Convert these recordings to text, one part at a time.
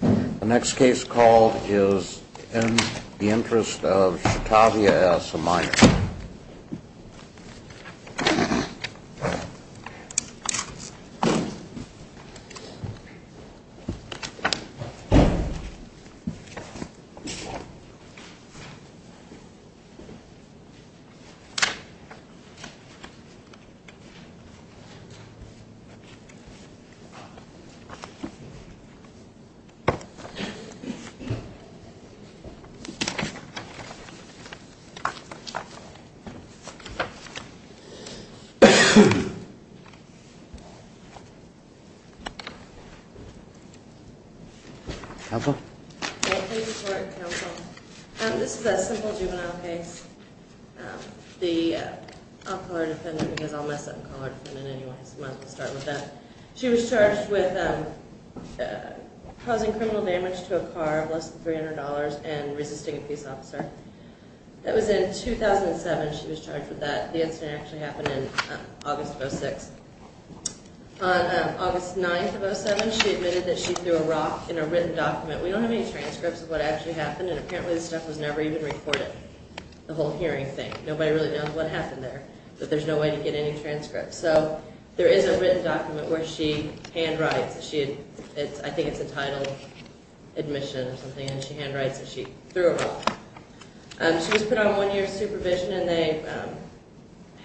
The next case called is In the Interest of Shatavia S., a Minor. I'll call her defendant because I'll mess up and call her defendant anyway, so might as well start with that. She was charged with causing criminal damage to a car of less than $300 and resisting a police officer. That was in 2007 she was charged with that. The incident actually happened in August of 06. On August 9th of 07 she admitted that she threw a rock in a written document. We don't have any transcripts of what actually happened and apparently this stuff was never even recorded, the whole hearing thing. Nobody really knows what happened there, but there's no way to get any transcripts. So there is a written document where she handwrites, I think it's entitled admission or something, and she handwrites that she threw a rock. She was put on one year's supervision and they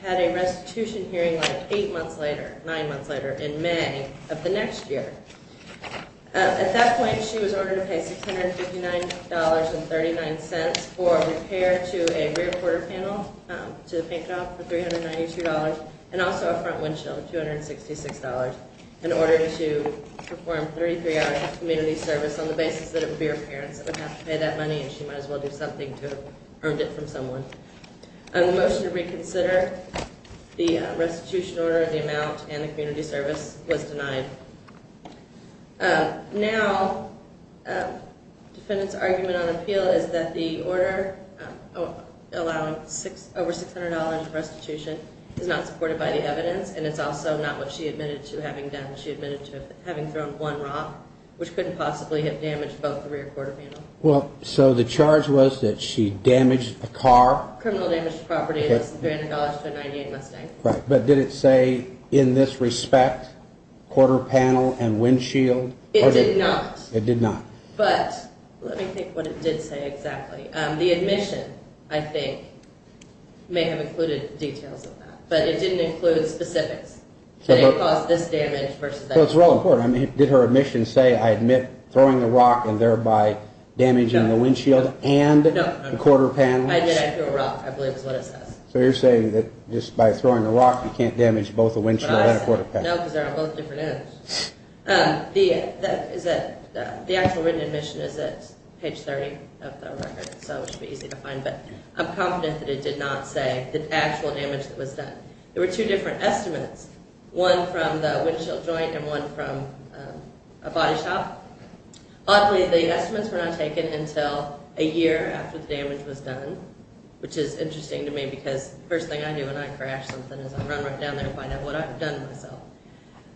had a restitution hearing like eight months later, nine months later, in May of the next year. At that point she was ordered to pay $659.39 for repair to a rear quarter panel to the paint job for $392 and also a front windshield for $266. In order to perform 33 hours of community service on the basis that it would be her parents that would have to pay that money and she might as well do something to have earned it from someone. On the motion to reconsider, the restitution order, the amount, and the community service was denied. Now, defendant's argument on appeal is that the order allowing over $600 in restitution is not supported by the evidence and it's also not what she admitted to having done. She admitted to having thrown one rock, which couldn't possibly have damaged both the rear quarter panel. Well, so the charge was that she damaged a car? Criminal damage to property and lost $300 to a 1998 Mustang. Right, but did it say in this respect quarter panel and windshield? It did not. It did not. But let me think what it did say exactly. The admission, I think, may have included details of that, but it didn't include specifics. Did it cause this damage versus that damage? So it's really important. Did her admission say, I admit throwing the rock and thereby damaging the windshield and the quarter panel? I did. I threw a rock, I believe is what it says. So you're saying that just by throwing a rock, you can't damage both the windshield and the quarter panel? No, because they're on both different ends. The actual written admission is at page 30 of the record, so it should be easy to find, but I'm confident that it did not say the actual damage that was done. There were two different estimates, one from the windshield joint and one from a body shop. Oddly, the estimates were not taken until a year after the damage was done, which is interesting to me, because the first thing I do when I crash something is I run right down there and find out what I've done to myself.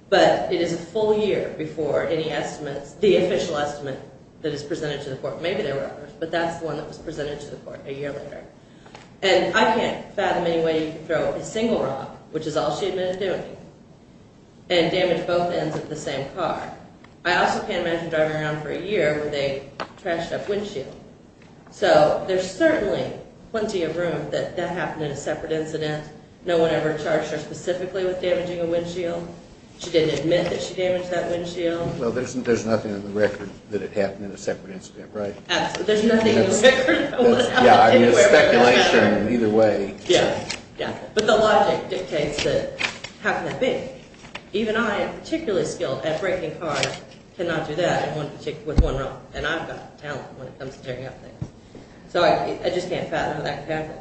But it is a full year before any estimates, the official estimate that is presented to the court. Maybe there were others, but that's the one that was presented to the court a year later. And I can't fathom any way you can throw a single rock, which is all she admitted doing, and damage both ends of the same car. I also can't imagine driving around for a year with a trashed-up windshield. So there's certainly plenty of room that that happened in a separate incident. No one ever charged her specifically with damaging a windshield. She didn't admit that she damaged that windshield. Well, there's nothing in the record that it happened in a separate incident, right? Absolutely. There's nothing in the record that it happened anywhere. Yeah, I mean, it's speculation either way. Yeah, yeah. But the logic dictates that. How can that be? Even I am particularly skilled at breaking cars. I cannot do that with one rock. And I've got talent when it comes to tearing up things. So I just can't fathom how that could happen.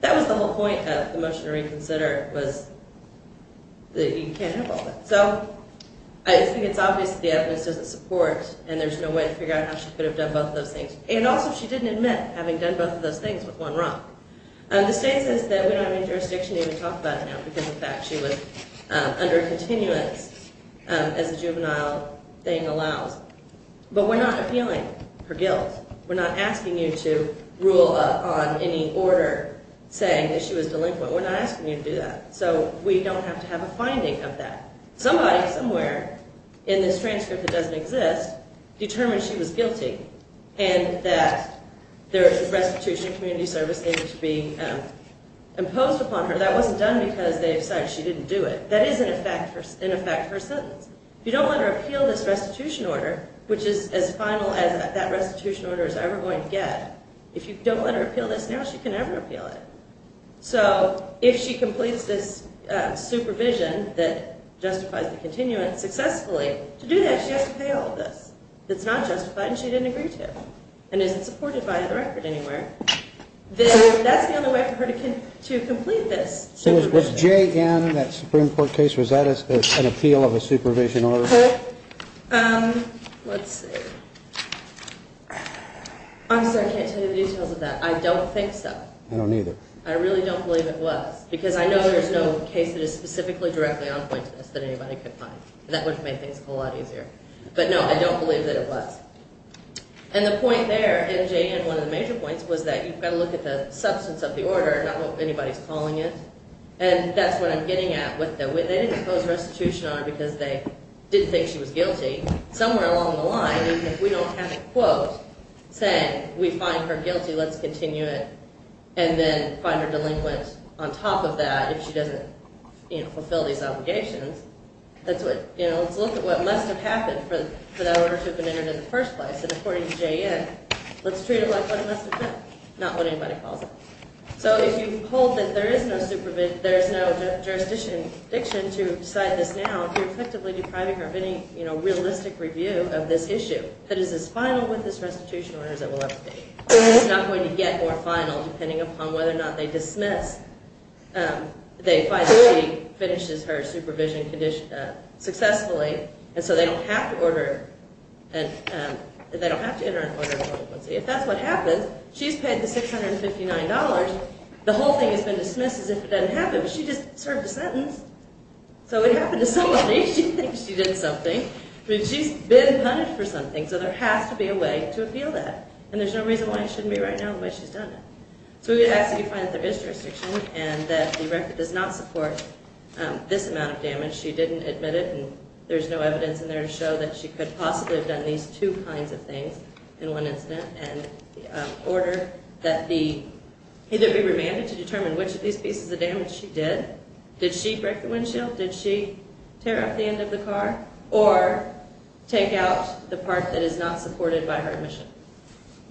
That was the whole point of the motion to reconsider was that you can't have all that. So I think it's obvious that the evidence doesn't support, and there's no way to figure out how she could have done both of those things. And also she didn't admit having done both of those things with one rock. The state says that we don't have any jurisdiction to even talk about it now because, in fact, she was under a continuance as a juvenile thing allows. But we're not appealing her guilt. We're not asking you to rule on any order saying that she was delinquent. We're not asking you to do that. So we don't have to have a finding of that. Somebody somewhere in this transcript that doesn't exist determined she was guilty and that there was a restitution of community service needed to be imposed upon her. That wasn't done because they decided she didn't do it. That is, in effect, her sentence. If you don't let her appeal this restitution order, which is as final as that restitution order is ever going to get, if you don't let her appeal this now, she can never appeal it. So if she completes this supervision that justifies the continuance successfully, to do that, she has to pay all of this that's not justified and she didn't agree to and isn't supported by the record anywhere. That's the only way for her to complete this supervision. Was J.N. in that Supreme Court case, was that an appeal of a supervision order? Let's see. I'm sorry, I can't tell you the details of that. I don't think so. I don't either. I really don't believe it was because I know there's no case that is specifically directly on point to this that anybody could find. That would have made things a whole lot easier. But no, I don't believe that it was. And the point there, and J.N., one of the major points was that you've got to look at the substance of the order, not what anybody's calling it, and that's what I'm getting at with the they didn't impose restitution on her because they didn't think she was guilty. Somewhere along the line, even if we don't have a quote saying we find her guilty, let's continue it, and then find her delinquent on top of that if she doesn't fulfill these obligations, let's look at what must have happened for that order to have been entered in the first place. And according to J.N., let's treat it like what it must have been, not what anybody calls it. So if you hold that there is no jurisdiction to decide this now, if you're effectively depriving her of any realistic review of this issue, that is as final with this restitution order as it will ever be. It's not going to get more final depending upon whether or not they dismiss, they find that she finishes her supervision successfully, and so they don't have to enter an order of delinquency. If that's what happens, she's paid the $659. The whole thing has been dismissed as if it doesn't happen, but she just served a sentence. So it happened to somebody. She thinks she did something. I mean, she's been punished for something, so there has to be a way to appeal that, and there's no reason why it shouldn't be right now the way she's done it. So we would ask that you find that there is jurisdiction and that the record does not support this amount of damage. She didn't admit it, and there's no evidence in there to show that she could possibly have done these two kinds of things in one incident, and order that it be remanded to determine which of these pieces of damage she did. Did she break the windshield? Did she tear up the end of the car? Or take out the part that is not supported by her admission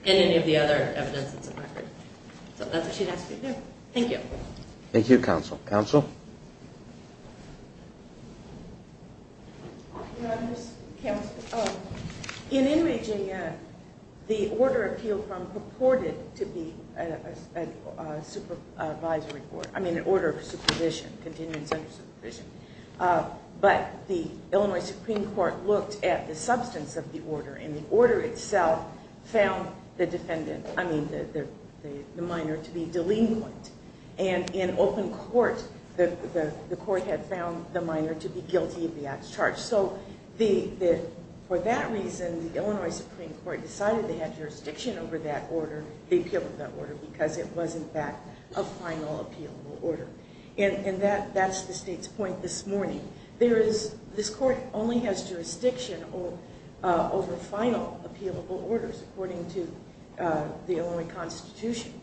and any of the other evidence that's in the record. So that's what she'd ask you to do. Thank you. Thank you, Counsel. Counsel? Your Honors, Counsel, in enraging the order appealed from purported to be a supervisory board, I mean an order of supervision, continuance under supervision. But the Illinois Supreme Court looked at the substance of the order, and the order itself found the minor to be delinquent. And in open court, the court had found the minor to be guilty of the act's charge. So for that reason, the Illinois Supreme Court decided they had jurisdiction over that order, because it was, in fact, a final appealable order. And that's the State's point this morning. This court only has jurisdiction over final appealable orders, according to the Illinois Constitution,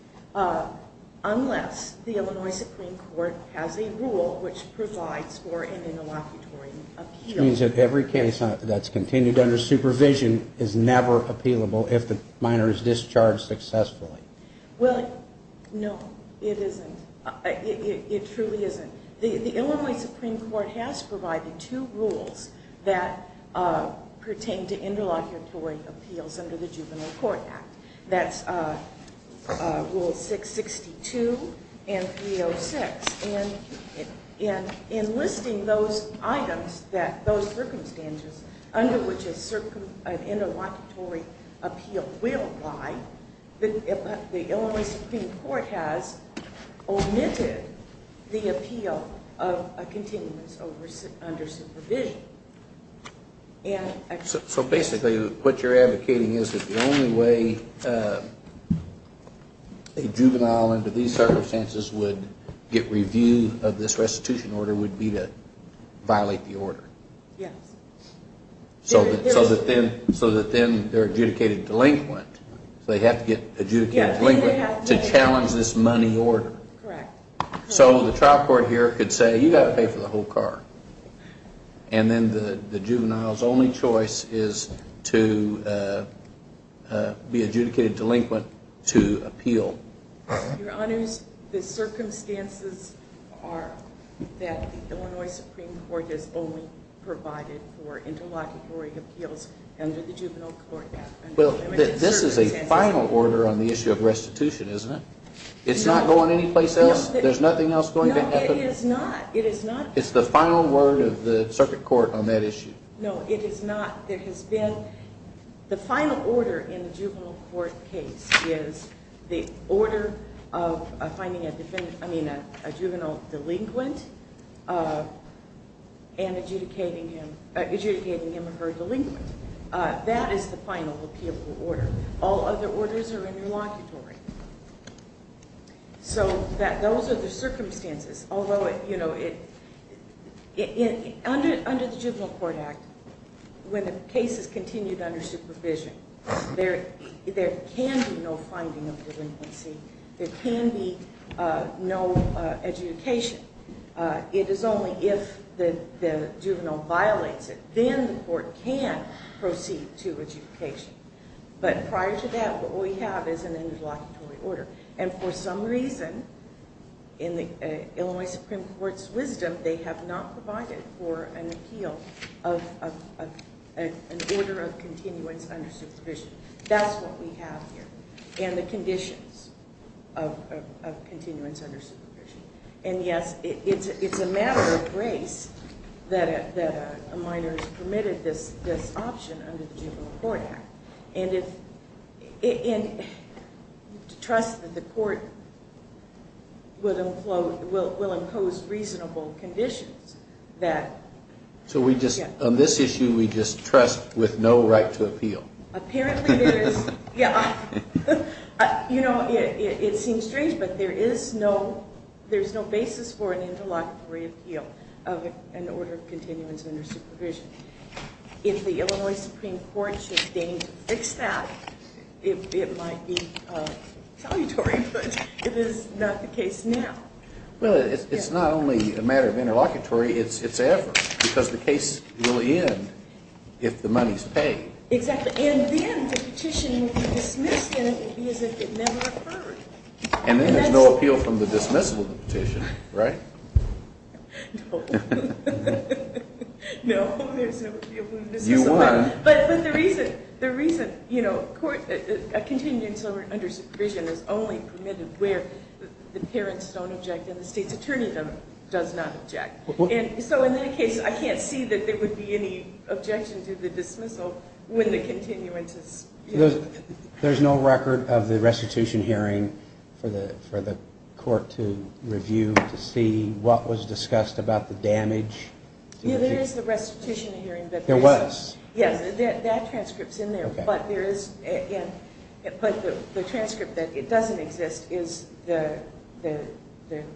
unless the Illinois Supreme Court has a rule which provides for an interlocutory appeal. Which means that every case that's continued under supervision is never appealable if the minor is discharged successfully. Well, no, it isn't. It truly isn't. The Illinois Supreme Court has provided two rules that pertain to interlocutory appeals under the Juvenile Court Act. That's Rule 662 and 306. And in listing those items, those circumstances, under which an interlocutory appeal will lie, the Illinois Supreme Court has omitted the appeal of a continuance under supervision. So basically, what you're advocating is that the only way a juvenile, under these circumstances, would get review of this restitution order would be to violate the order. Yes. So that then they're adjudicated delinquent. So they have to get adjudicated delinquent to challenge this money order. Correct. So the trial court here could say, you've got to pay for the whole car. And then the juvenile's only choice is to be adjudicated delinquent to appeal. Your Honors, the circumstances are that the Illinois Supreme Court has only provided for interlocutory appeals under the Juvenile Court Act. Well, this is a final order on the issue of restitution, isn't it? No. It's not going anyplace else? There's nothing else going to happen? No, it is not. It's the final word of the circuit court on that issue. No, it is not. The final order in the juvenile court case is the order of finding a juvenile delinquent and adjudicating him or her delinquent. That is the final appealable order. All other orders are interlocutory. So those are the circumstances. Although, you know, under the Juvenile Court Act, when the case is continued under supervision, there can be no finding of delinquency. There can be no adjudication. It is only if the juvenile violates it, then the court can proceed to adjudication. But prior to that, what we have is an interlocutory order. And for some reason, in the Illinois Supreme Court's wisdom, they have not provided for an appeal of an order of continuance under supervision. That's what we have here, and the conditions of continuance under supervision. And, yes, it's a matter of grace that a minor is permitted this option under the Juvenile Court Act. And trust that the court will impose reasonable conditions. So on this issue, we just trust with no right to appeal. Apparently there is. You know, it seems strange, but there is no basis for an interlocutory appeal of an order of continuance under supervision. If the Illinois Supreme Court should deign to fix that, it might be salutary, but it is not the case now. Well, it's not only a matter of interlocutory, it's effort, because the case will end if the money is paid. Exactly. And then the petition will be dismissed, and it will be as if it never occurred. And then there's no appeal from the dismissal of the petition, right? No. No, there's no appeal from the dismissal. You won. But the reason, you know, a continuance under supervision is only permitted where the parents don't object and the state's attorney does not object. And so in that case, I can't see that there would be any objection to the dismissal when the continuance is... There's no record of the restitution hearing for the court to review to see what was discussed about the damage? Yeah, there is the restitution hearing. There was? Yes, that transcript's in there. Okay. But the transcript that it doesn't exist is the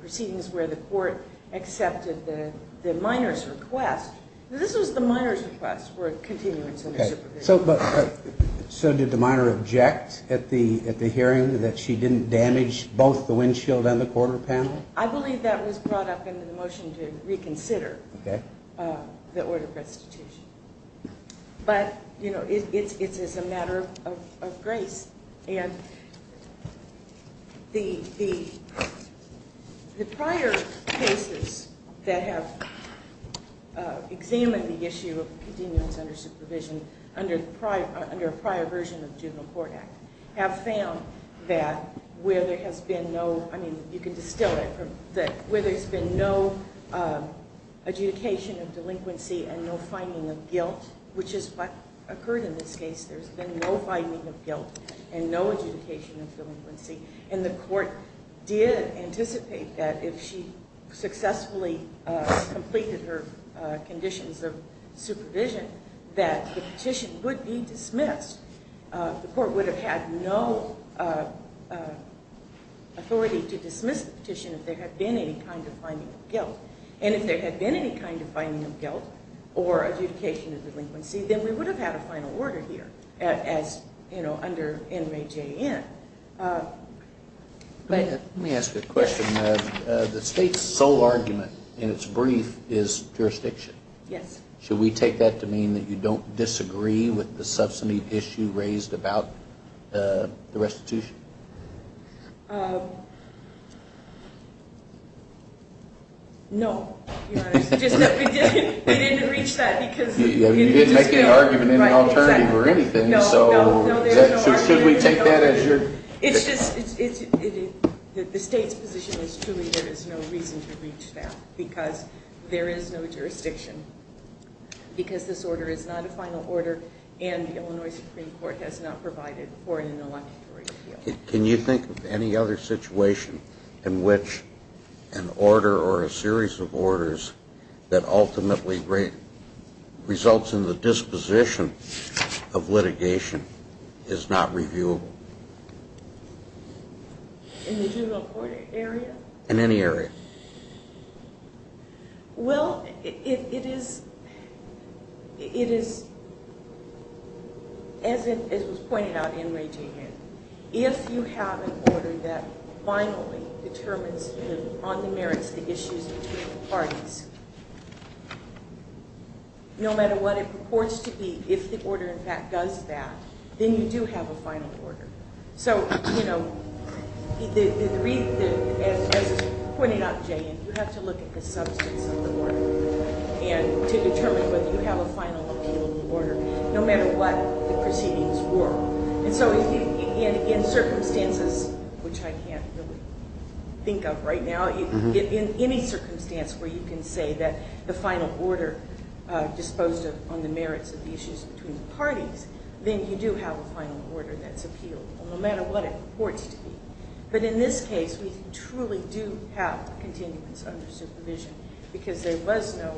proceedings where the court accepted the minor's request. This was the minor's request for a continuance under supervision. So did the minor object at the hearing that she didn't damage both the windshield and the corner panel? I believe that was brought up in the motion to reconsider the order of restitution. But, you know, it's a matter of grace. And the prior cases that have examined the issue of continuance under supervision under a prior version of the Juvenile Court Act have found that where there has been no, I mean, you can distill it, where there's been no adjudication of delinquency and no finding of guilt, which has occurred in this case, there's been no finding of guilt and no adjudication of delinquency. And the court did anticipate that if she successfully completed her conditions of supervision that the petition would be dismissed. The court would have had no authority to dismiss the petition if there had been any kind of finding of guilt. And if there had been any kind of finding of guilt or adjudication of delinquency, then we would have had a final order here as, you know, under NMAJN. Let me ask a question. The state's sole argument in its brief is jurisdiction. Yes. Should we take that to mean that you don't disagree with the subsummate issue raised about the restitution? No, Your Honor. We didn't reach that because we didn't disagree. You didn't make any argument of any alternative or anything, so should we take that as your? It's just the state's position is truly there is no reason to reach that because there is no jurisdiction because this order is not a final order and the Illinois Supreme Court has not provided for an ineluctatory appeal. Can you think of any other situation in which an order or a series of orders that ultimately results in the disposition of litigation is not reviewable? In the juvenile court area? In any area. Well, it is, as was pointed out in NMAJN, if you have an order that finally determines on the merits the issues between the parties, no matter what it purports to be, if the order in fact does that, then you do have a final order. So, you know, as was pointed out in NMAJN, you have to look at the substance of the order to determine whether you have a final appeal of the order, no matter what the proceedings were. And so in circumstances, which I can't really think of right now, in any circumstance where you can say that the final order disposed of on the merits of the issues between the parties, then you do have a final order that's appealed, no matter what it purports to be. But in this case, we truly do have continuance under supervision because there was no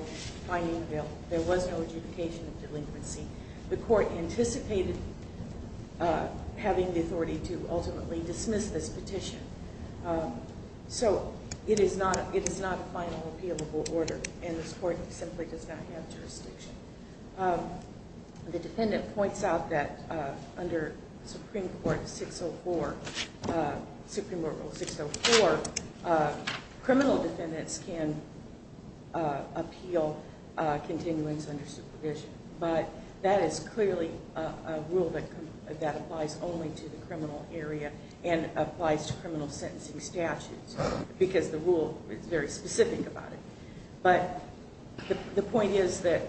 finding available, there was no adjudication of delinquency. The court anticipated having the authority to ultimately dismiss this petition. So it is not a final appealable order, and this court simply does not have jurisdiction. The defendant points out that under Supreme Court Rule 604, criminal defendants can appeal continuance under supervision. But that is clearly a rule that applies only to the criminal area and applies to criminal sentencing statutes because the rule is very specific about it. But the point is that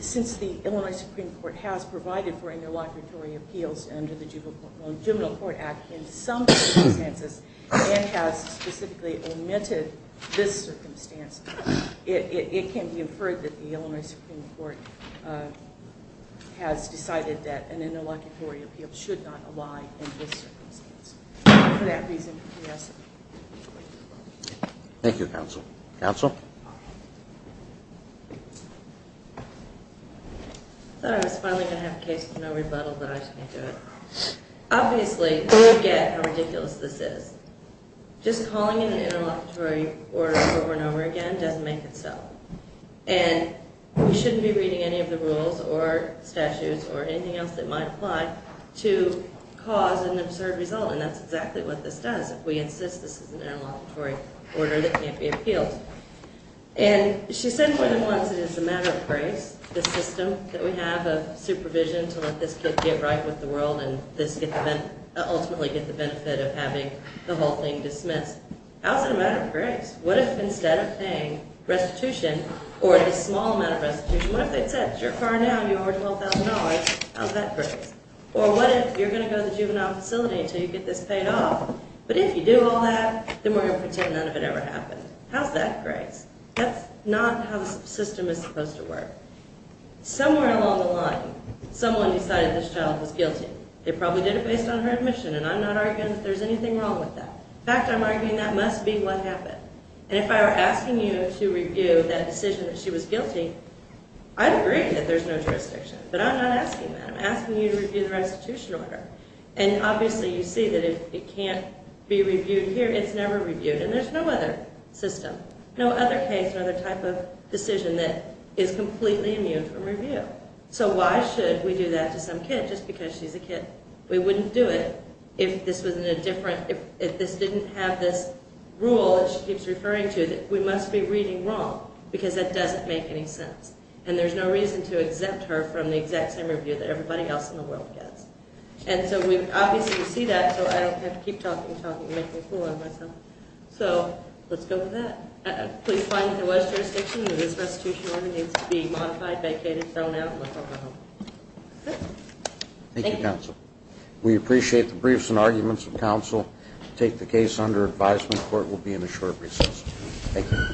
since the Illinois Supreme Court has provided for interlocutory appeals under the Juvenile Court Act in some circumstances and has specifically omitted this circumstance, it can be inferred that the Illinois Supreme Court has decided that an interlocutory appeal should not apply in this circumstance. For that reason, yes. Thank you, counsel. Counsel? I thought I was finally going to have a case with no rebuttal, but I just can't do it. Obviously, we all get how ridiculous this is. Just calling an interlocutory order over and over again doesn't make it so. And we shouldn't be reading any of the rules or statutes or anything else that might apply to cause an absurd result, and that's exactly what this does. If we insist this is an interlocutory order, it can't be appealed. And she said more than once it is a matter of grace, the system that we have of supervision to let this kid get right with the world and ultimately get the benefit of having the whole thing dismissed. How is it a matter of grace? What if instead of paying restitution or this small amount of restitution, what if they said, it's your car now and you owe her $12,000. How is that grace? Or what if you're going to go to the juvenile facility until you get this paid off, but if you do all that, then we're going to pretend none of it ever happened. How is that grace? That's not how the system is supposed to work. Somewhere along the line, someone decided this child was guilty. They probably did it based on her admission, and I'm not arguing that there's anything wrong with that. In fact, I'm arguing that must be what happened. And if I were asking you to review that decision that she was guilty, I'd agree that there's no jurisdiction, but I'm not asking that. I'm asking you to review the restitution order. And obviously you see that it can't be reviewed here. It's never reviewed, and there's no other system, no other case or other type of decision that is completely immune from review. So why should we do that to some kid just because she's a kid? We wouldn't do it if this was in a different, if this didn't have this rule that she keeps referring to that we must be reading wrong because that doesn't make any sense. And there's no reason to exempt her from the exact same review that everybody else in the world gets. And so we obviously see that, so I don't have to keep talking and talking and making a fool of myself. So let's go with that. Please find if there was jurisdiction, if this restitution order needs to be modified, vacated, thrown out, and let her go home. Okay. Thank you, counsel. We appreciate the briefs and arguments of counsel. We'll take the case under advisement. The court will be in a short recess. Thank you.